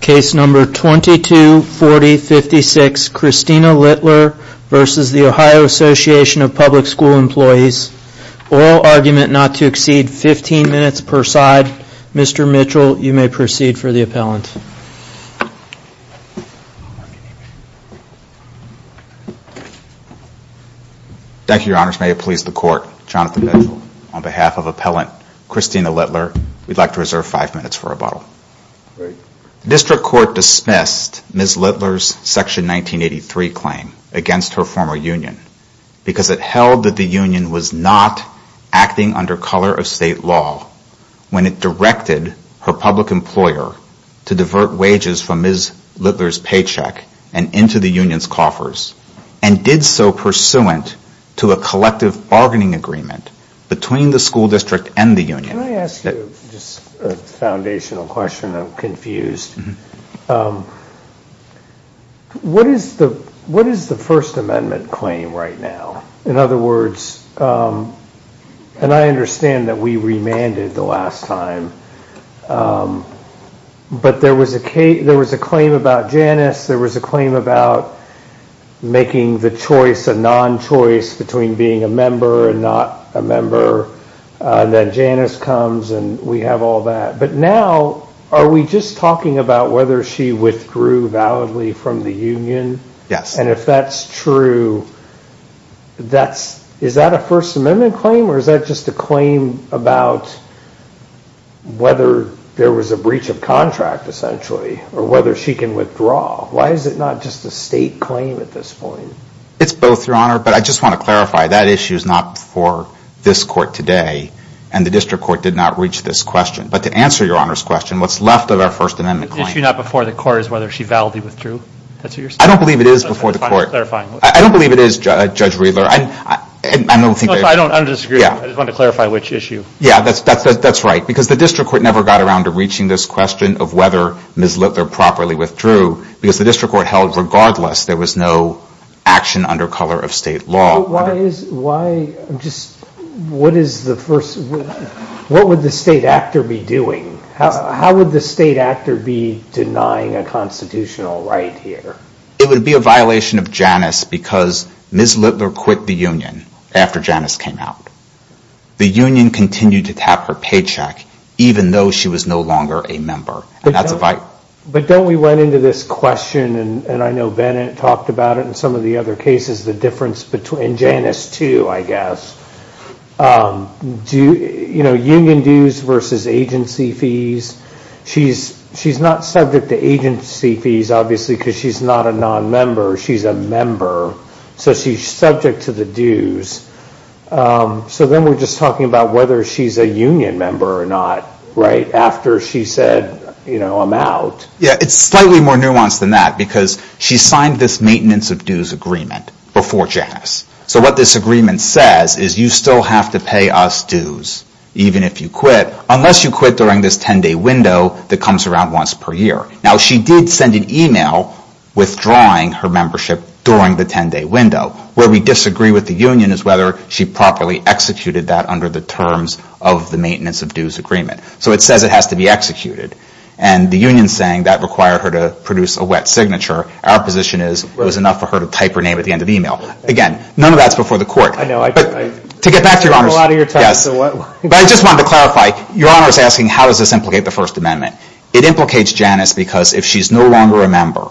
Case number 224056, Christina Littler v. The Ohio Association of Public School Employees. Oral argument not to exceed 15 minutes per side. Mr. Mitchell, you may proceed for the appellant. Thank you, your honors. May it please the court, Jonathan Mitchell, on behalf of appellant Christina Littler, we'd like to reserve five minutes for rebuttal. The district court dismissed Ms. Littler's section 1983 claim against her former union because it held that the union was not acting under color of state law when it directed her public employer to divert wages from Ms. Littler's paycheck and into the union's coffers, and did so pursuant to a collective bargaining agreement between the school district and the union. Can I ask you just a foundational question? I'm confused. What is the First Amendment claim right now? In other words, and I understand that we remanded the last time, but there was a claim about Janice, there was a claim about making the choice a non-choice between being a member and not a member, and then Janice comes and we have all that. But now, are we just talking about whether she withdrew validly from the union? Yes. And if that's true, is that a First Amendment claim, or is that just a claim about whether there was a breach of contract, essentially, or whether she can withdraw? Why is it not just a state claim at this point? It's both, Your Honor. But I just want to clarify, that issue is not before this Court today, and the district court did not reach this question. But to answer Your Honor's question, what's left of our First Amendment claim The issue not before the Court is whether she validly withdrew. I don't believe it is before the Court. I don't believe it is, Judge Riedler. I don't disagree. I just want to clarify which issue. Yeah, that's right, because the district court never got around to reaching this question of whether Ms. Littler properly withdrew, because the district court held regardless there was no action under color of state law. Why is, why, just, what is the first, what would the state actor be doing? How would the state actor be denying a constitutional right here? It would be a violation of Janus, because Ms. Littler quit the union after Janus came out. The union continued to tap her paycheck, even though she was no longer a member. But don't we run into this question, and I know Bennett talked about it in some of the other cases, the difference between Janus too, I guess. Do, you know, union dues versus agency fees. She's not subject to agency fees, obviously, because she's not a non-member. She's a member, so she's subject to the dues. So then we're just talking about whether she's a union member or not, right? After she said, you know, I'm out. Yeah, it's slightly more nuanced than that, because she signed this maintenance of dues agreement before Janus. So what this agreement says is you still have to pay us dues, even if you quit, unless you quit during this 10-day window that comes around once per year. Now, she did send an email withdrawing her membership during the 10-day window. Where we disagree with the union is whether she properly executed that under the terms of the maintenance of dues agreement. So it says it has to be executed. And the union's saying that required her to produce a wet signature. Our position is it was enough for her to type her name at the end of the email. Again, none of that's before the court. I know. But to get back to your honors, yes. But I just wanted to clarify, your honors asking how does this implicate the First Amendment. It implicates Janus because if she's no longer a member,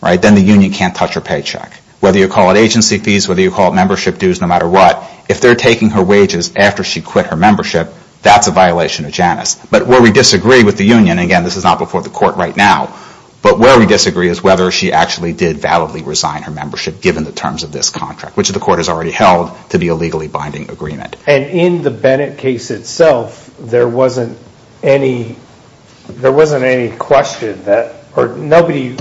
right, then the union can't touch her paycheck. Whether you call it agency fees, whether you call it membership dues, no matter what, if they're taking her wages after she quit her membership, that's a violation of Janus. But where we disagree with the union, again, this is not before the court right now, but where we disagree is whether she actually did validly resign her membership given the terms of this contract, which the court has already held to be a legally binding agreement. And in the Bennett case itself, there wasn't any question that, or nobody,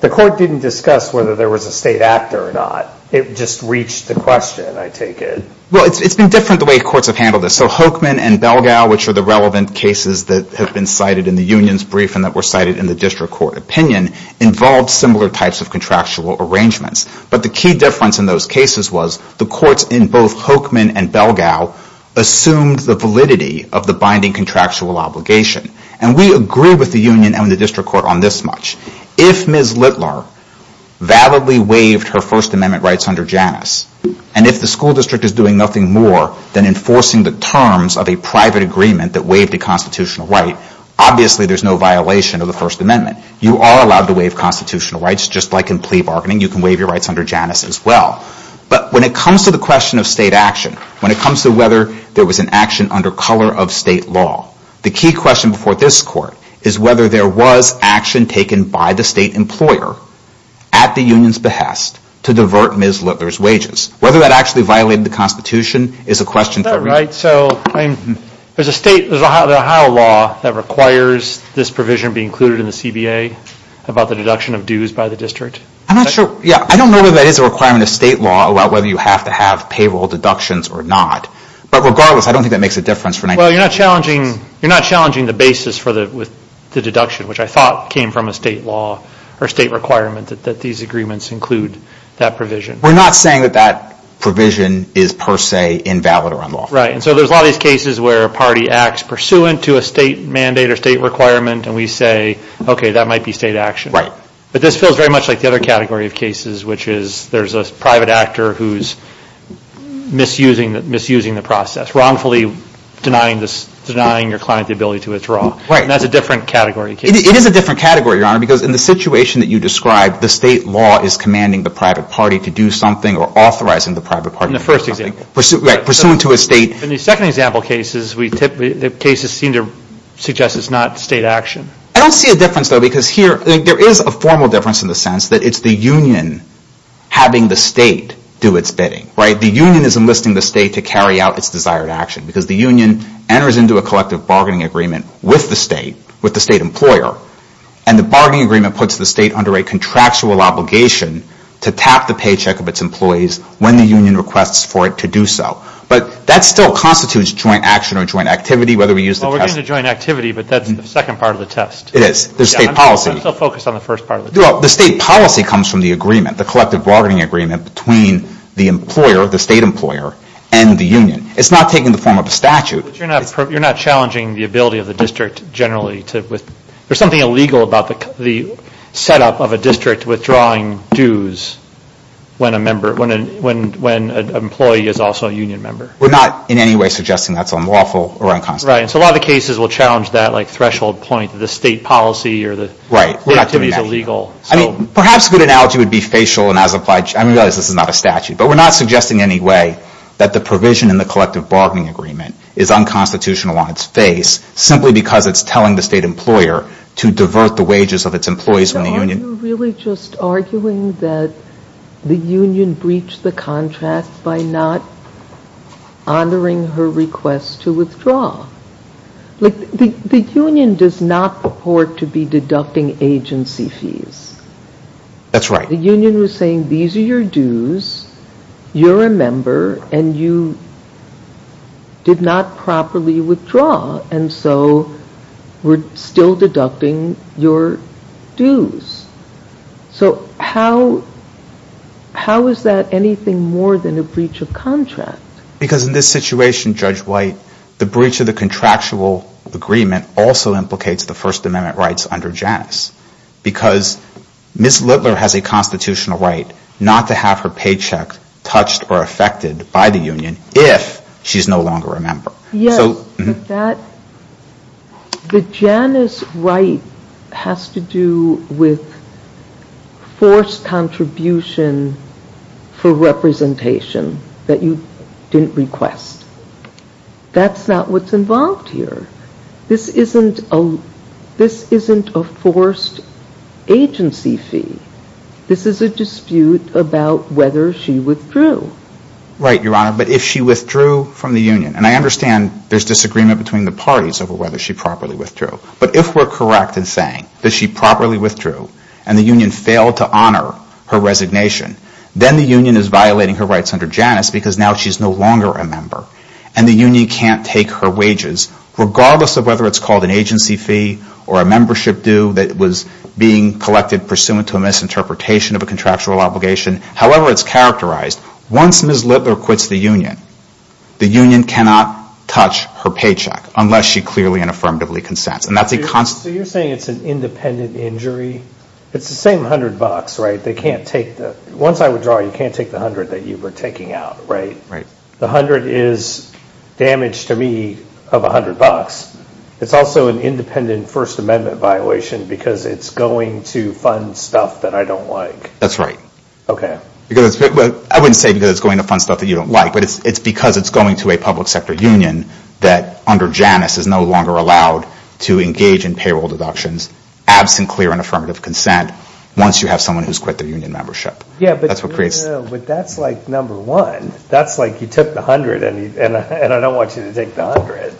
the court didn't discuss whether there was a state actor or not. It just reached the question, I take it. Well, it's been different the way courts have handled this. So Hochman and Belgau, which are the relevant cases that have been cited in the union's brief and that were cited in the district court opinion, involved similar types of contractual arrangements. But the key difference in those cases was the courts in both Hochman and Belgau assumed the validity of the binding contractual obligation. And we agree with the union and the district court on this much. If Ms. Littler validly waived her First Amendment rights under Janus, and if the school district is doing nothing more than enforcing the terms of a private agreement that waived a constitutional right, obviously there's no violation of the First Amendment. You are allowed to waive constitutional rights. Just like in plea bargaining, you can waive your rights under Janus as well. But when it comes to the question of state action, when it comes to whether there was an action under color of state law, the key question before this court is whether there was action taken by the state employer at the union's behest to divert Ms. Littler's wages. Whether that actually violated the Constitution is a question for me. Is that right? There's an Ohio law that requires this provision be included in the CBA about the deduction of dues by the district? I'm not sure. I don't know whether that is a requirement of state law about whether you have to have payroll deductions or not. But regardless, I don't think that makes a difference. Well, you're not challenging the basis for the deduction, which I thought came from a state law or state requirement that these agreements include that provision. We're not saying that that provision is per se invalid or unlawful. Right. And so there's a lot of these cases where a party acts pursuant to a state mandate or state requirement and we say, okay, that might be state action. Right. But this feels very much like the other category of cases, which is there's a private actor who's misusing the process, wrongfully denying your client the ability to withdraw. Right. And that's a different category. It is a different category, Your Honor, because in the situation that you described, the state law is commanding the private party to do something or authorizing the private party to do something. In the first example. Right, pursuant to a state. In the second example cases, the cases seem to suggest it's not state action. I don't see a difference, though, because here there is a formal difference in the sense that it's the union having the state do its bidding. Right. The union is enlisting the state to carry out its desired action because the union enters into a collective bargaining agreement with the state, with the state employer, and the bargaining agreement puts the state under a contractual obligation to tap the paycheck of its employees when the union requests for it to do so. But that still constitutes joint action or joint activity, whether we use the test. Well, we're getting to joint activity, but that's the second part of the test. It is. There's state policy. I'm still focused on the first part of the test. Well, the state policy comes from the agreement, the collective bargaining agreement between the employer, the state employer, and the union. It's not taken in the form of a statute. But you're not challenging the ability of the district generally to – there's something illegal about the setup of a district withdrawing dues when a member – when an employee is also a union member. We're not in any way suggesting that's unlawful or unconstitutional. Right. And so a lot of the cases will challenge that threshold point that the state policy or the activity is illegal. Right. Perhaps a good analogy would be facial and as applied – I realize this is not a statute, but we're not suggesting in any way that the provision in the collective bargaining agreement is unconstitutional on its face simply because it's telling the state employer to divert the wages of its employees from the union. So are you really just arguing that the union breached the contract by not honoring her request to withdraw? The union does not purport to be deducting agency fees. That's right. The union was saying these are your dues, you're a member, and you did not properly withdraw, and so we're still deducting your dues. So how is that anything more than a breach of contract? Because in this situation, Judge White, the breach of the contractual agreement also implicates the First Amendment rights under Janus because Ms. Littler has a constitutional right not to have her paycheck touched or affected by the union if she's no longer a member. Yes, but that – the Janus right has to do with forced contribution for representation that you didn't request. That's not what's involved here. This isn't a forced agency fee. This is a dispute about whether she withdrew. Right, Your Honor, but if she withdrew from the union, and I understand there's disagreement between the parties over whether she properly withdrew, but if we're correct in saying that she properly withdrew and the union failed to honor her resignation, then the union is violating her rights under Janus because now she's no longer a member, and the union can't take her wages, regardless of whether it's called an agency fee or a membership due that was being collected pursuant to a misinterpretation of a contractual obligation. However, it's characterized. Once Ms. Littler quits the union, the union cannot touch her paycheck unless she clearly and affirmatively consents. So you're saying it's an independent injury? It's the same $100, right? Once I withdraw, you can't take the $100 that you were taking out, right? Right. The $100 is damage to me of $100. It's also an independent First Amendment violation because it's going to fund stuff that I don't like. That's right. Okay. I wouldn't say because it's going to fund stuff that you don't like, but it's because it's going to a public sector union that under Janus is no longer allowed to engage in payroll deductions absent clear and affirmative consent once you have someone who's quit their union membership. Yeah, but that's like number one. That's like you took the $100, and I don't want you to take the $100.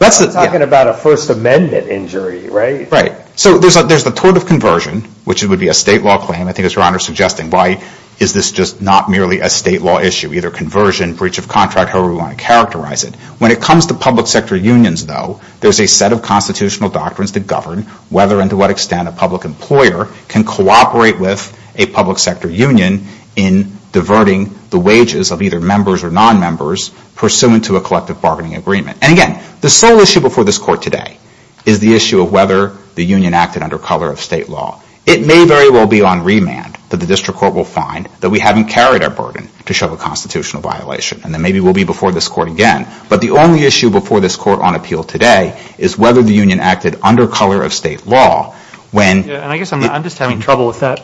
I'm talking about a First Amendment injury, right? Right. So there's the tort of conversion, which would be a state law claim. I think it's Your Honor suggesting why is this just not merely a state law issue, either conversion, breach of contract, however you want to characterize it. When it comes to public sector unions, though, there's a set of constitutional doctrines that govern whether and to what extent a public employer can cooperate with a public sector union in diverting the wages of either members or non-members pursuant to a collective bargaining agreement. And again, the sole issue before this Court today is the issue of whether the union acted under color of state law. It may very well be on remand that the district court will find that we haven't carried our burden to show a constitutional violation. And then maybe we'll be before this Court again. But the only issue before this Court on appeal today is whether the union acted under color of state law. And I guess I'm just having trouble with that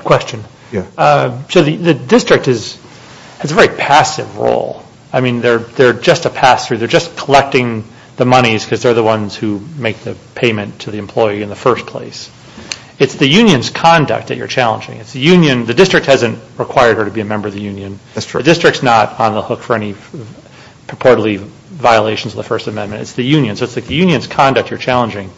question. So the district has a very passive role. I mean, they're just a pass-through. They're just collecting the monies because they're the ones who make the payment to the employee in the first place. It's the union's conduct that you're challenging. The district hasn't required her to be a member of the union. The district's not on the hook for any purportedly violations of the First Amendment. It's the union. So it's the union's conduct you're challenging.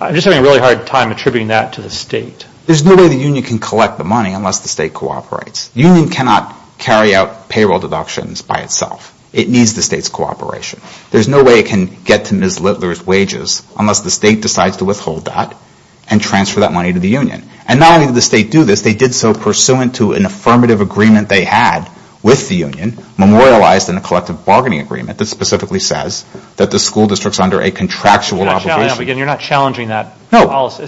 I'm just having a really hard time attributing that to the state. There's no way the union can collect the money unless the state cooperates. The union cannot carry out payroll deductions by itself. It needs the state's cooperation. There's no way it can get to Ms. Littler's wages unless the state decides to withhold that and transfer that money to the union. And not only did the state do this, they did so pursuant to an affirmative agreement they had with the union, memorialized in a collective bargaining agreement that specifically says that the school district's under a contractual obligation. You're not challenging that policy.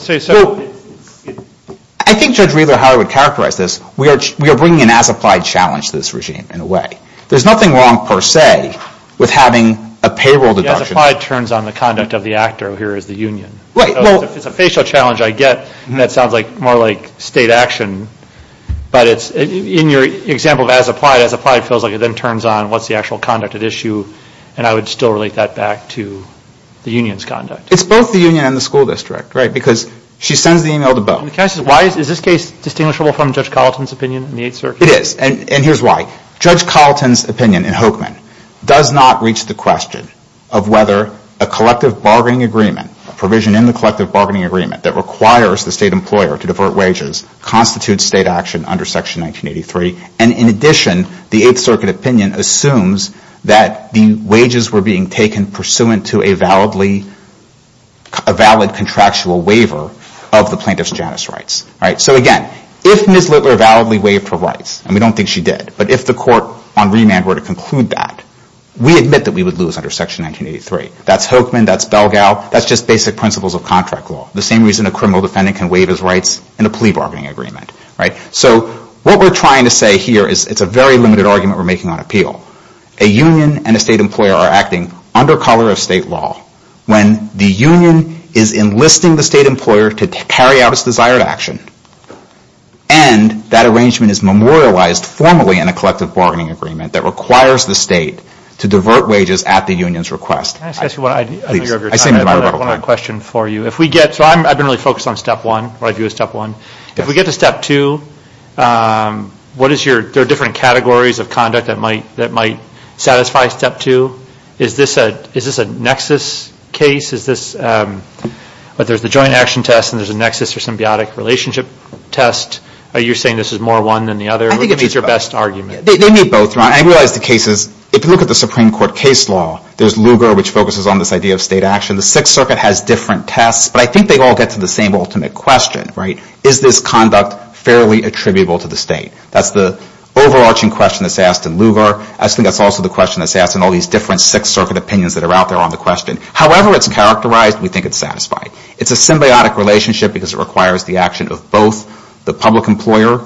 I think Judge Wheeler-Howard characterized this. We are bringing an as-applied challenge to this regime in a way. There's nothing wrong per se with having a payroll deduction. The as-applied turns on the conduct of the actor here as the union. It's a facial challenge I get that sounds more like state action, but in your example of as-applied, as-applied feels like it then turns on what's the actual conduct at issue, and I would still relate that back to the union's conduct. It's both the union and the school district, right, because she sends the email to both. Is this case distinguishable from Judge Colleton's opinion in the Eighth Circuit? It is, and here's why. Judge Colleton's opinion in Hokeman does not reach the question of whether a collective bargaining agreement, a provision in the collective bargaining agreement that requires the state employer to divert wages constitutes state action under Section 1983, and in addition, the Eighth Circuit opinion assumes that the wages were being taken pursuant to a valid contractual waiver of the plaintiff's Janus rights. So again, if Ms. Littler validly waived her rights, and we don't think she did, but if the court on remand were to conclude that, we admit that we would lose under Section 1983. That's Hokeman, that's Belgau, that's just basic principles of contract law, the same reason a criminal defendant can waive his rights in a plea bargaining agreement, right? So what we're trying to say here is it's a very limited argument we're making on appeal. A union and a state employer are acting under color of state law when the union is enlisting the state employer to carry out its desired action, and that arrangement is memorialized formally in a collective bargaining agreement that requires the state to divert wages at the union's request. Can I ask you one other question for you? So I've been really focused on Step 1, what I view as Step 1. If we get to Step 2, what is your different categories of conduct that might satisfy Step 2? Is this a nexus case? Is this whether it's a joint action test and there's a nexus or symbiotic relationship test? Are you saying this is more one than the other? Which is your best argument? They meet both, Ron. I realize the case is, if you look at the Supreme Court case law, there's Lugar, which focuses on this idea of state action. The Sixth Circuit has different tests, but I think they all get to the same ultimate question, right? Is this conduct fairly attributable to the state? That's the overarching question that's asked in Lugar. I just think that's also the question that's asked in all these different Sixth Circuit opinions that are out there on the question. However it's characterized, we think it's satisfied. It's a symbiotic relationship because it requires the action of both the public employer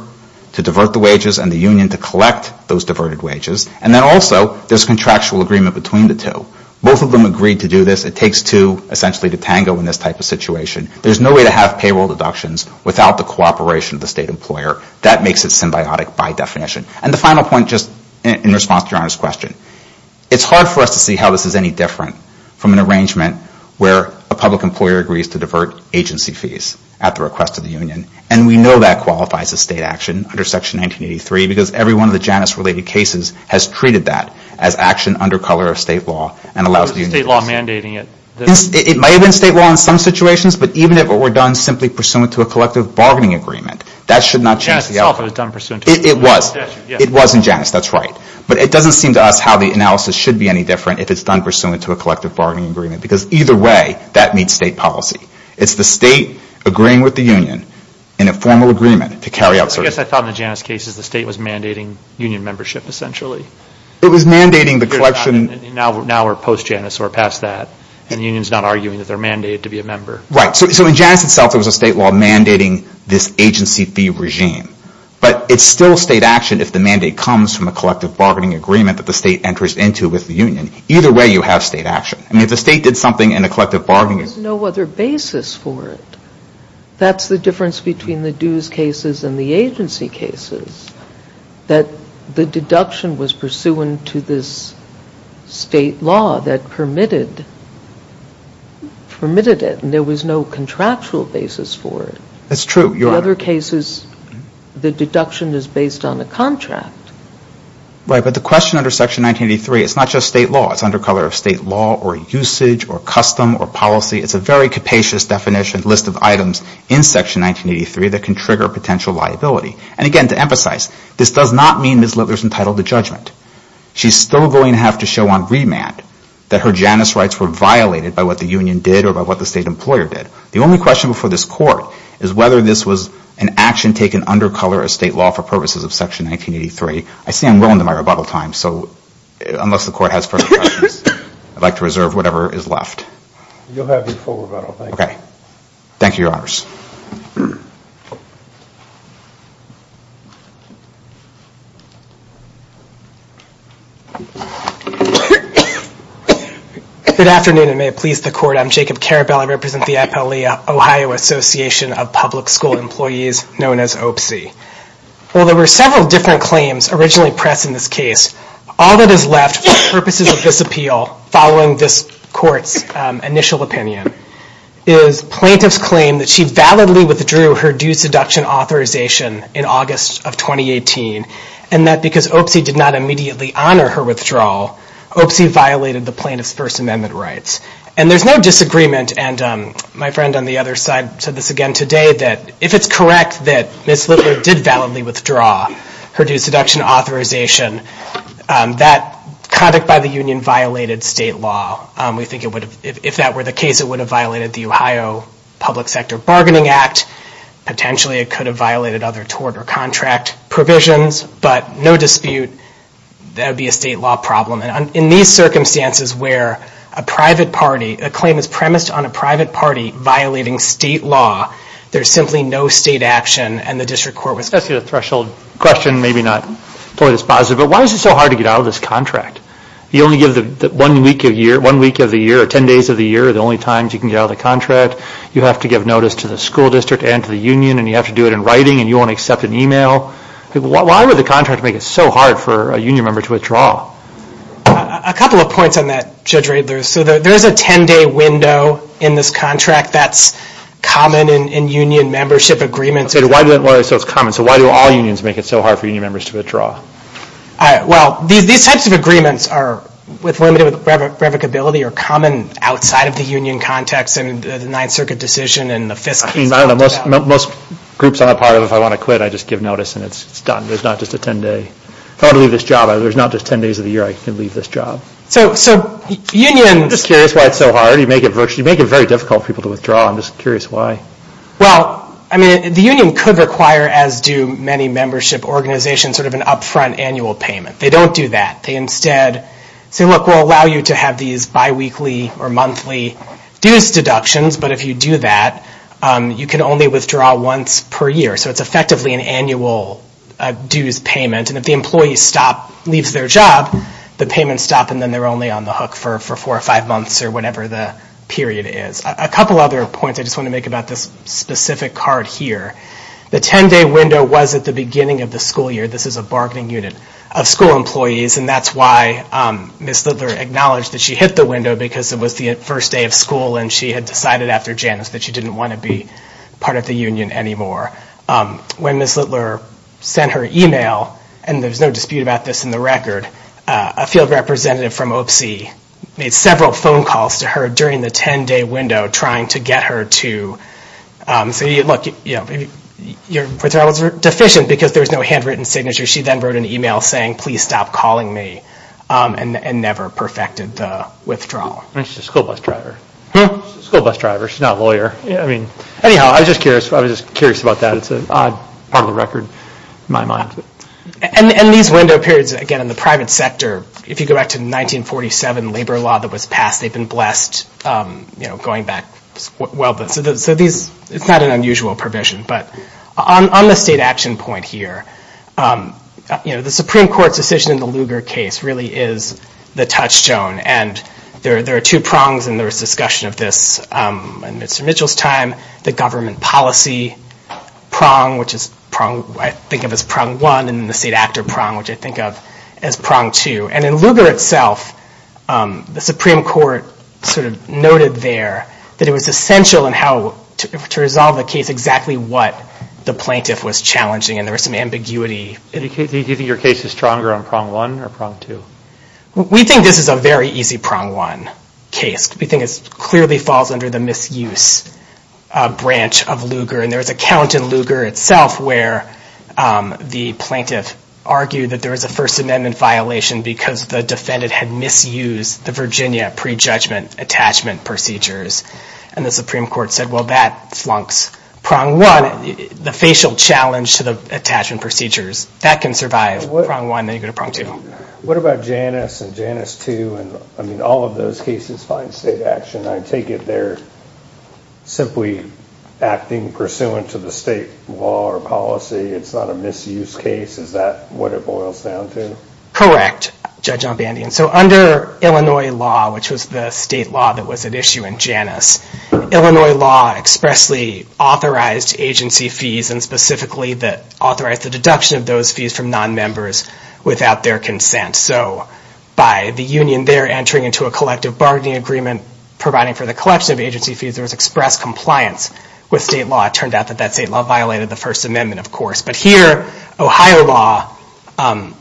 to divert the wages and the union to collect those diverted wages. And then also there's contractual agreement between the two. Both of them agreed to do this. It takes two essentially to tango in this type of situation. There's no way to have payroll deductions without the cooperation of the state employer. That makes it symbiotic by definition. And the final point, just in response to your honest question, it's hard for us to see how this is any different from an arrangement where a public employer agrees to divert agency fees at the request of the union. And we know that qualifies as state action under Section 1983 because every one of the Janus-related cases has treated that as action under color of state law and allows the union to pass it. It may have been state law in some situations, but even if it were done simply pursuant to a collective bargaining agreement, that should not change the outcome. It was in Janus, that's right. But it doesn't seem to us how the analysis should be any different if it's done pursuant to a collective bargaining agreement because either way that meets state policy. It's the state agreeing with the union in a formal agreement to carry out certain... I guess I thought in the Janus cases, the state was mandating union membership, essentially. It was mandating the collection... Now we're post-Janus, so we're past that. And the union's not arguing that they're mandated to be a member. Right. So in Janus itself, there was a state law mandating this agency fee regime. But it's still state action if the mandate comes from a collective bargaining agreement that the state enters into with the union. Either way, you have state action. I mean, if the state did something in a collective bargaining... There's no other basis for it. That's the difference between the dues cases and the agency cases, that the deduction was pursuant to this state law that permitted it, and there was no contractual basis for it. That's true, Your Honor. In other cases, the deduction is based on a contract. Right, but the question under Section 1983, it's not just state law. It's under color of state law or usage or custom or policy. It's a very capacious definition, list of items in Section 1983 that can trigger potential liability. And again, to emphasize, this does not mean Ms. Littler's entitled to judgment. She's still going to have to show on remand that her Janus rights were violated by what the union did or by what the state employer did. The only question before this Court is whether this was an action taken under color of state law for purposes of Section 1983. I say I'm willing to my rebuttal time, so unless the Court has further questions, I'd like to reserve whatever is left. You'll have your full rebuttal. Thank you. Thank you, Your Honors. Good afternoon, and may it please the Court. I'm Jacob Karabell. I represent the FLE-Ohio Association of Public School Employees, known as OPSI. Well, there were several different claims originally pressed in this case. All that is left for the purposes of this appeal, following this Court's initial opinion, is plaintiff's claim that she validly withdrew her due seduction authorization in August of 2018, and that because OPSI did not immediately honor her withdrawal, OPSI violated the plaintiff's First Amendment rights. And there's no disagreement, and my friend on the other side said this again today, that if it's correct that Ms. Littler did validly withdraw her due seduction authorization, that conduct by the union violated state law. We think if that were the case, it would have violated the Ohio Public Sector Bargaining Act. Potentially it could have violated other tort or contract provisions, but no dispute, that would be a state law problem. In these circumstances where a private party, a claim is premised on a private party violating state law, there's simply no state action, and the District Court was... Especially the threshold question, maybe not quite as positive, but why is it so hard to get out of this contract? You only give one week of the year, or 10 days of the year, are the only times you can get out of the contract. You have to give notice to the school district and to the union, and you have to do it in writing, and you won't accept an email. Why would the contract make it so hard for a union member to withdraw? A couple of points on that, Judge Radler. So there's a 10-day window in this contract that's common in union membership agreements. So it's common. So why do all unions make it so hard for union members to withdraw? Well, these types of agreements with limited revocability are common outside of the union context, and the Ninth Circuit decision, and the fiscal... I don't know. Most groups I'm a part of, if I want to quit, I just give notice, and it's done. There's not just a 10-day. If I want to leave this job, there's not just 10 days of the year I can leave this job. So unions... I'm just curious why it's so hard. You make it very difficult for people to withdraw. I'm just curious why. Well, I mean, the union could require, as do many membership organizations, sort of an upfront annual payment. They don't do that. They instead say, look, we'll allow you to have these biweekly or monthly dues deductions, but if you do that, you can only withdraw once per year. So it's effectively an annual dues payment, and if the employee leaves their job, the payments stop, and then they're only on the hook for four or five months or whatever the period is. A couple other points I just want to make about this specific card here. The 10-day window was at the beginning of the school year. This is a bargaining unit of school employees, and that's why Ms. Littler acknowledged that she hit the window because it was the first day of school and she had decided after Janice that she didn't want to be part of the union anymore. When Ms. Littler sent her email, and there's no dispute about this in the record, a field representative from OPC made several phone calls to her during the 10-day window trying to get her to say, look, your withdrawals are deficient because there's no handwritten signature. She then wrote an email saying, please stop calling me, and never perfected the withdrawal. And she's a school bus driver. Huh? School bus driver. She's not a lawyer. Anyhow, I was just curious about that. It's an odd part of the record in my mind. And these window periods, again, in the private sector, if you go back to the 1947 labor law that was passed, they've been blessed going back well. So it's not an unusual provision. But on the state action point here, the Supreme Court's decision in the Lugar case really is the touchstone. And there are two prongs in this discussion of this. In Mr. Mitchell's time, the government policy prong, which I think of as prong one, and the state actor prong, which I think of as prong two. And in Lugar itself, the Supreme Court sort of noted there that it was essential in how to resolve the case exactly what the plaintiff was challenging. And there was some ambiguity. Do you think your case is stronger on prong one or prong two? We think this is a very easy prong one case. We think it clearly falls under the misuse branch of Lugar. And there was a count in Lugar itself where the plaintiff argued that there was a First Amendment violation because the defendant had misused the Virginia prejudgment attachment procedures. And the Supreme Court said, well, that flunks prong one. The facial challenge to the attachment procedures, that can survive prong one, then you go to prong two. What about Janus and Janus II? I mean, all of those cases find state action. I take it they're simply acting pursuant to the state law or policy. It's not a misuse case. Is that what it boils down to? Correct, Judge Ombandian. So under Illinois law, which was the state law that was at issue in Janus, Illinois law expressly authorized agency fees and specifically authorized the deduction of those fees from nonmembers without their consent. So by the union there entering into a collective bargaining agreement providing for the collection of agency fees, there was express compliance with state law. It turned out that that state law violated the First Amendment, of course. But here, Ohio law,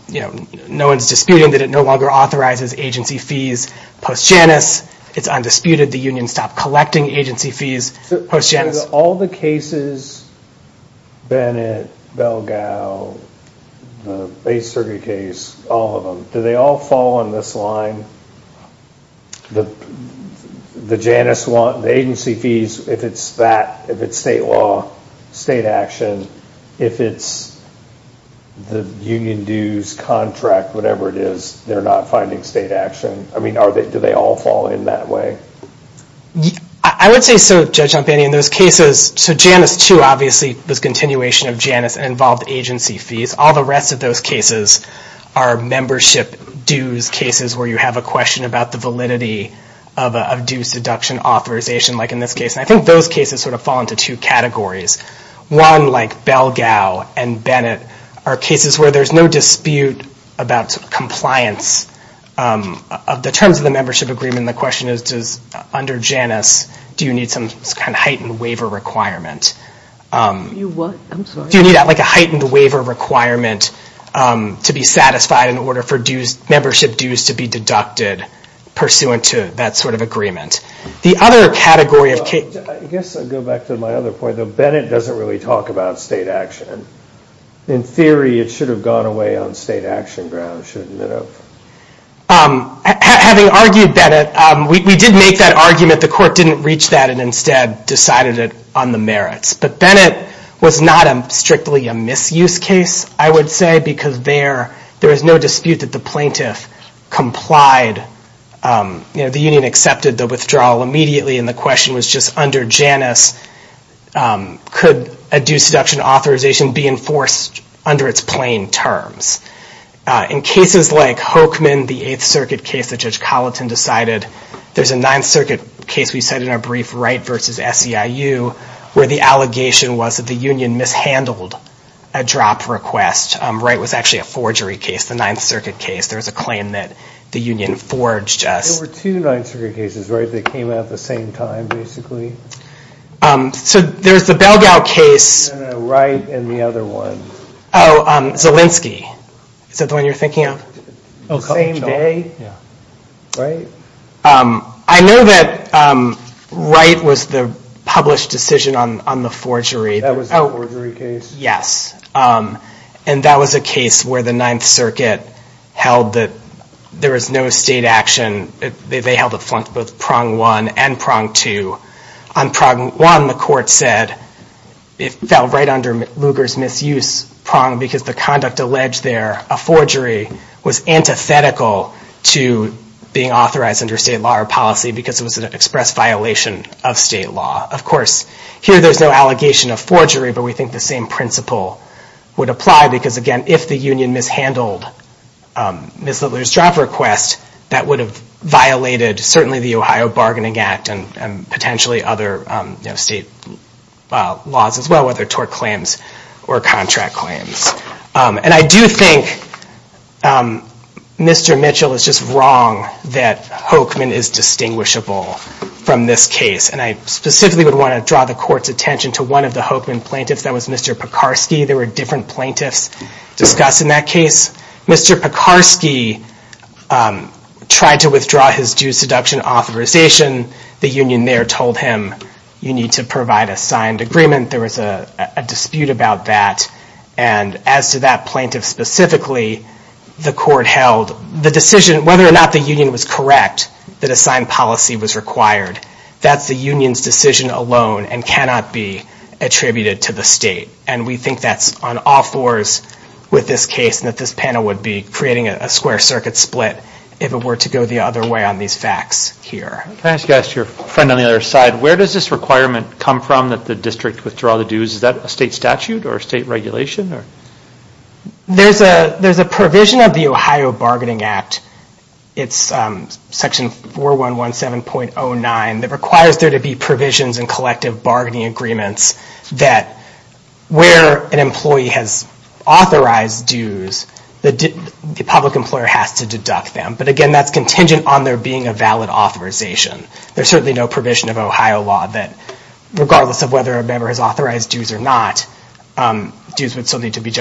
you know, no one's disputing that it no longer authorizes agency fees post Janus. It's undisputed. The union stopped collecting agency fees post Janus. So all the cases, Bennett, Belgao, the base circuit case, all of them, do they all fall on this line? The Janus one, the agency fees, if it's that, if it's state law, state action, if it's the union dues, contract, whatever it is, they're not finding state action. I mean, do they all fall in that way? I would say so, Judge Jampanian. Those cases, so Janus 2, obviously, was continuation of Janus and involved agency fees. All the rest of those cases are membership dues cases where you have a question about the validity of due seduction authorization, like in this case. And I think those cases sort of fall into two categories. One, like Belgao and Bennett, are cases where there's no dispute about compliance. In terms of the membership agreement, the question is, under Janus, do you need some kind of heightened waiver requirement? Do you need, like, a heightened waiver requirement to be satisfied in order for membership dues to be deducted pursuant to that sort of agreement? The other category of cases... Well, Judge, I guess I'll go back to my other point. Bennett doesn't really talk about state action. In theory, it should have gone away on state action grounds, shouldn't it have? Having argued Bennett, we did make that argument. The court didn't reach that and instead decided it on the merits. But Bennett was not strictly a misuse case, I would say, because there was no dispute that the plaintiff complied. The union accepted the withdrawal immediately and the question was just, under Janus, could a due seduction authorization be enforced under its plain terms? In cases like Hoekman, the 8th Circuit case that Judge Colleton decided... There's a 9th Circuit case we cited in our brief, Wright v. SEIU, where the allegation was that the union mishandled a drop request. Wright was actually a forgery case, the 9th Circuit case. There was a claim that the union forged a... There were two 9th Circuit cases, right, that came out at the same time, basically? So there's the Belgao case... No, no, Wright and the other one. Oh, Zielinski. Is that the one you're thinking of? The same day? Right. I know that Wright was the published decision on the forgery. That was the forgery case? Yes. And that was a case where the 9th Circuit held that there was no state action. They held it both prong one and prong two. On prong one, the court said it fell right under Lugar's misuse prong because the conduct alleged there, a forgery, was antithetical to being authorized under state law or policy because it was an express violation of state law. Of course, here there's no allegation of forgery, but we think the same principle would apply because, again, if the union mishandled Ms. Littler's drop request, that would have violated, certainly, the Ohio Bargaining Act and potentially other state laws as well, whether tort claims or contract claims. And I do think Mr. Mitchell is just wrong that Hochman is distinguishable from this case, and I specifically would want to draw the court's attention to one of the Hochman plaintiffs. That was Mr. Pekarsky. There were different plaintiffs discussed in that case. Mr. Pekarsky tried to withdraw his due seduction authorization. The union there told him, you need to provide a signed agreement. There was a dispute about that. And as to that plaintiff specifically, the court held the decision, whether or not the union was correct that a signed policy was required, that's the union's decision alone and cannot be attributed to the state. And we think that's on all fours with this case and that this panel would be creating a square circuit split if it were to go the other way on these facts here. Can I ask you guys, your friend on the other side, where does this requirement come from that the district withdraw the dues? Is that a state statute or a state regulation? There's a provision of the Ohio Bargaining Act. It's section 4117.09 that requires there to be provisions in collective bargaining agreements that where an employee has authorized dues, the public employer has to deduct them. But again, that's contingent on there being a valid authorization. There's certainly no provision of Ohio law that regardless of whether a member has authorized dues or not, dues would still need to be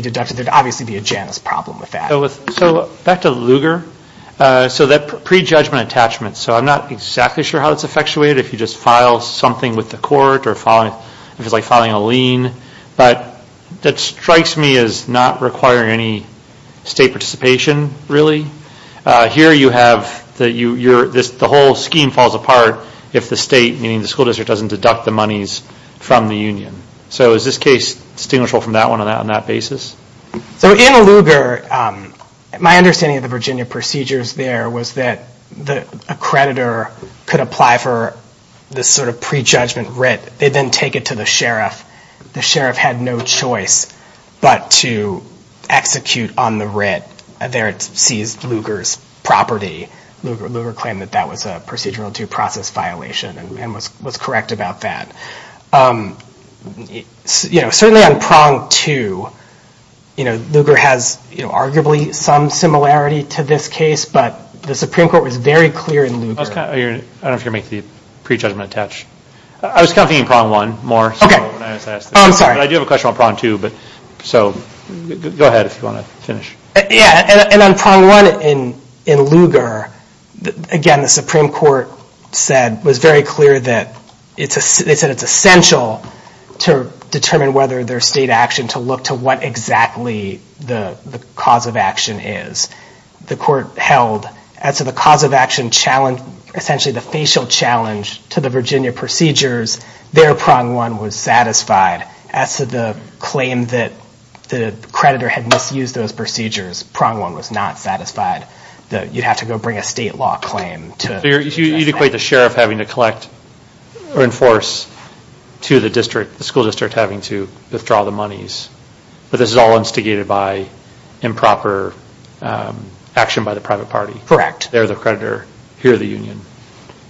deducted. There'd obviously be a Janus problem with that. So back to Lugar, so that prejudgment attachment, so I'm not exactly sure how it's effectuated. If you just file something with the court or if it's like filing a lien, but that strikes me as not requiring any state participation really. Here you have the whole scheme falls apart if the state, meaning the school district, doesn't deduct the monies from the union. So is this case distinguishable from that one on that basis? So in Lugar, my understanding of the Virginia procedures there was that a creditor could apply for this sort of prejudgment writ. They then take it to the sheriff. The sheriff had no choice but to execute on the writ. There it sees Lugar's property. Lugar claimed that that was a procedural due process violation and was correct about that. Certainly on prong two, Lugar has arguably some similarity to this case, but the Supreme Court was very clear in Lugar. I don't know if you're going to make the prejudgment attach. I was kind of thinking prong one more. I'm sorry. I do have a question on prong two, so go ahead if you want to finish. Yeah, and on prong one in Lugar, again, the Supreme Court was very clear that they said it's essential to determine whether there's state action to look to what exactly the cause of action is. The court held that as to the cause of action challenge, essentially the facial challenge to the Virginia procedures, their prong one was satisfied. As to the claim that the creditor had misused those procedures, prong one was not satisfied. You'd have to go bring a state law claim. So you'd equate the sheriff having to collect or enforce to the school district having to withdraw the monies, but this is all instigated by improper action by the private party. They're the creditor. Here are the union.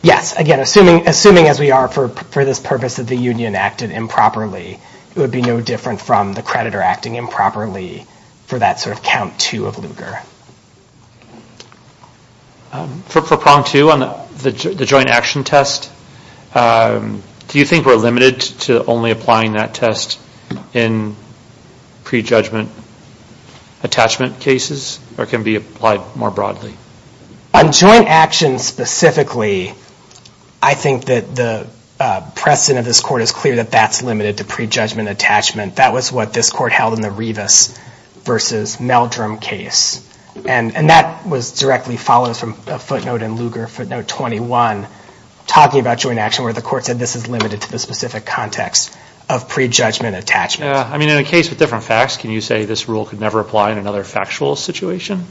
Yes. Again, assuming as we are for this purpose that the union acted improperly, it would be no different from the creditor acting improperly for that sort of count two of Lugar. For prong two on the joint action test, do you think we're limited to only applying that test in prejudgment attachment cases or can it be applied more broadly? On joint action specifically, I think that the precedent of this court is clear that that's limited to prejudgment attachment. That was what this court held in the Rivas versus Meldrum case, and that was directly followed from a footnote in Lugar, footnote 21, talking about joint action where the court said this is limited to the specific context of prejudgment attachment. In a case with different facts, can you say this rule could never apply in another factual situation?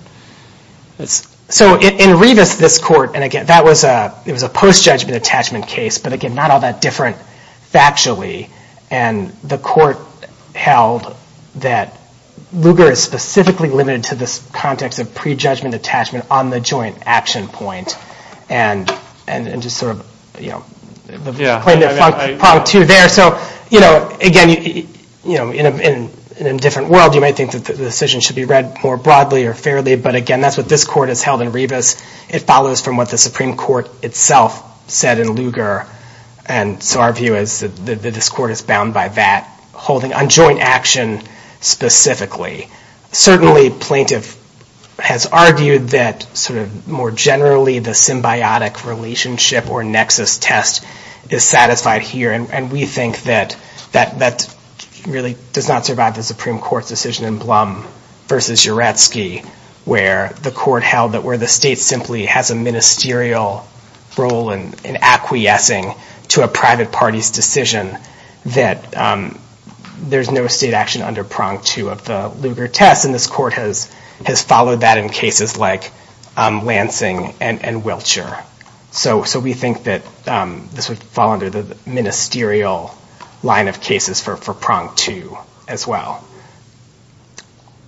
In Rivas, this court, and again, that was a post-judgment attachment case, but again, not all that different factually, and the court held that Lugar is specifically limited to this context of prejudgment attachment on the joint action point and just sort of, you know, point to there. So, you know, again, you know, in a different world, you might think that the decision should be read more broadly or fairly, but again, that's what this court has held in Rivas. It follows from what the Supreme Court itself said in Lugar, and so our view is that this court is bound by that, holding on joint action specifically. Certainly, plaintiff has argued that sort of more generally the symbiotic relationship or nexus test is satisfied here, and we think that that really does not survive the Supreme Court's decision in Blum v. Uretsky, where the court held that where the state simply has a ministerial role in acquiescing to a private party's decision, that there's no state action under prong two of the Lugar test, and this court has followed that in cases like Lansing and Wiltshire, so we think that this would fall under the ministerial line of cases for prong two as well.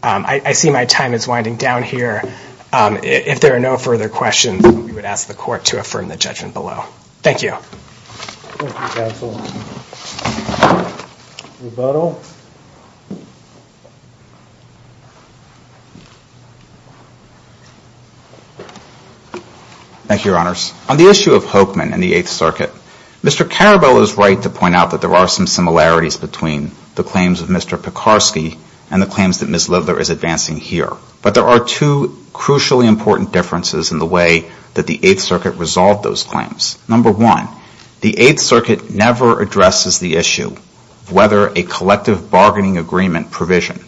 I see my time is winding down here. If there are no further questions, we would ask the court to affirm the judgment below. Thank you. Thank you, counsel. Rebuttal. Thank you, Your Honors. On the issue of Hokeman and the Eighth Circuit, Mr. Carabello is right to point out that there are some similarities between the claims of Mr. Pekarsky and the claims that Ms. Lidler is advancing here, but there are two crucially important differences in the way that the Eighth Circuit resolved those claims. Number one, the Eighth Circuit never addresses the issue of whether a collective bargaining agreement provision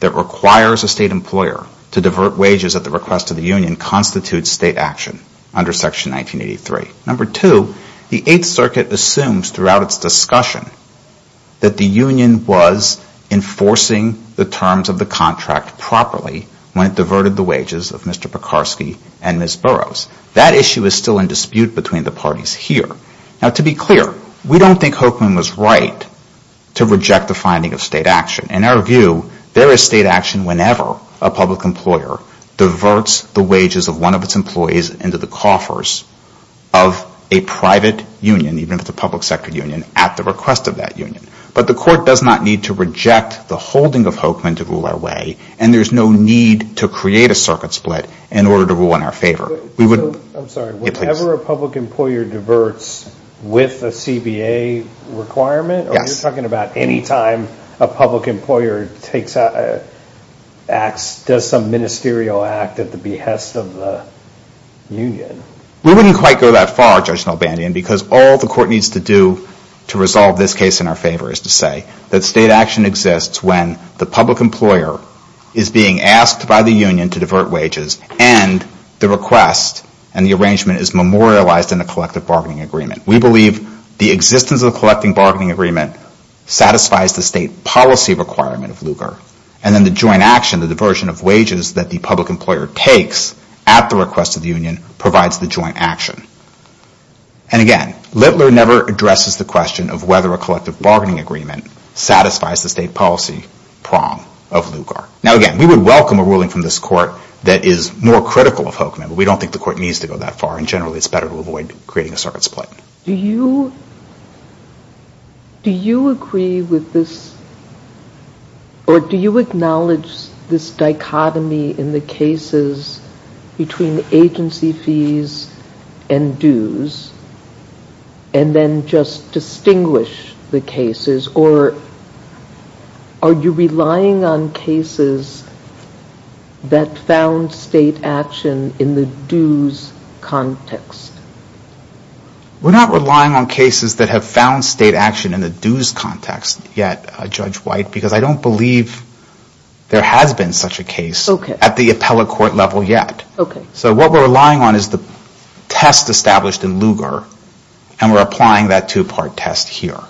that requires a state employer to divert wages at the request of the union constitutes state action under Section 1983. Number two, the Eighth Circuit assumes throughout its discussion that the union was enforcing the terms of the contract properly when it diverted the wages of Mr. Pekarsky and Ms. Burroughs. That issue is still in dispute between the parties here. Now, to be clear, we don't think Hokeman was right to reject the finding of state action. In our view, there is state action whenever a public employer diverts the wages of one of its employees into the coffers of a private union, even if it's a public sector union, at the request of that union. But the Court does not need to reject the holding of Hokeman to rule our way, and there's no need to create a circuit split in order to rule in our favor. We would... I'm sorry, whenever a public employer diverts with a CBA requirement? Yes. Are you talking about any time a public employer does some ministerial act at the behest of the union? We wouldn't quite go that far, Judge Nelbandian, because all the Court needs to do to resolve this case in our favor is to say that state action exists when the public employer is being asked by the union to divert wages and the request and the arrangement is memorialized in the collective bargaining agreement. We believe the existence of the collective bargaining agreement satisfies the state policy requirement of Lugar. And then the joint action, the diversion of wages that the public employer takes at the request of the union provides the joint action. And again, Littler never addresses the question of whether a collective bargaining agreement satisfies the state policy prong of Lugar. Now again, we would welcome a ruling from this Court that is more critical of Hokeman, but we don't think the Court needs to go that far, and generally it's better to avoid creating a circuit split. Do you... Do you agree with this, or do you acknowledge this dichotomy in the cases between agency fees and dues, and then just distinguish the cases, or are you relying on cases that found state action in the dues context? We're not relying on cases that have found state action in the dues context yet, Judge White, because I don't believe there has been such a case at the appellate court level yet. So what we're relying on is the test established in Lugar, and we're applying that two-part test here.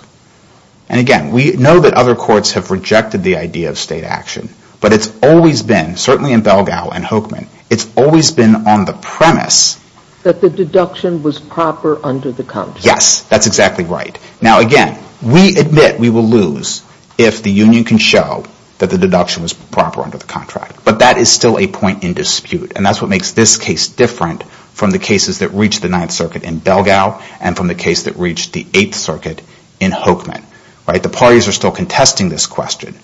And again, we know that other courts have rejected the idea of state action, but it's always been, certainly in Belgao and Hokeman, it's always been on the premise... That the deduction was proper under the context. Yes, that's exactly right. Now, again, we admit we will lose if the union can show that the deduction was proper under the contract, but that is still a point in dispute, and that's what makes this case different from the cases that reached the Ninth Circuit in Belgao and from the case that reached the Eighth Circuit in Hokeman. The parties are still contesting this question.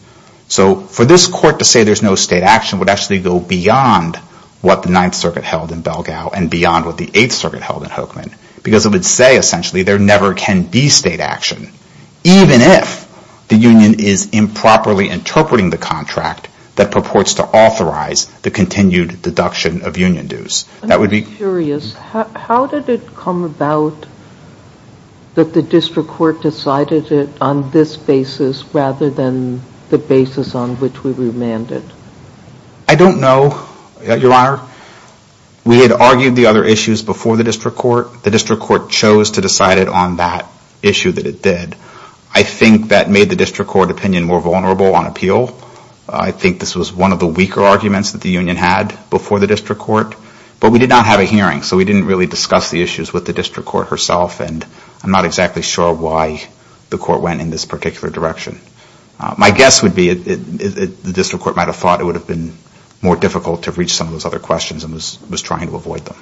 So for this court to say there's no state action would actually go beyond what the Ninth Circuit held in Belgao and beyond what the Eighth Circuit held in Hokeman, because it would say, essentially, there never can be state action, even if the union is improperly interpreting the contract that purports to authorize the continued deduction of union dues. That would be... I'm just curious. How did it come about that the district court decided it on this basis rather than the basis on which we remanded? I don't know, Your Honor. We had argued the other issues before the district court and the district court chose to decide it on that issue that it did. I think that made the district court opinion more vulnerable on appeal. I think this was one of the weaker arguments that the union had before the district court. But we did not have a hearing, so we didn't really discuss the issues with the district court herself and I'm not exactly sure why the court went in this particular direction. My guess would be the district court might have thought it would have been more difficult to reach some of those other questions and was trying to avoid them.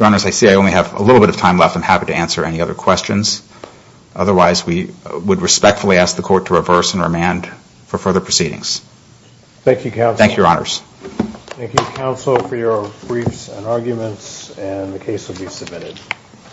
I see I only have a little bit of time left. I'm happy to answer any other questions. Otherwise, we would respectfully ask the court to reverse and remand for further proceedings. Thank you, Counsel. Thank you, Your Honors. Thank you, Counsel, for your briefs and arguments and the case will be submitted.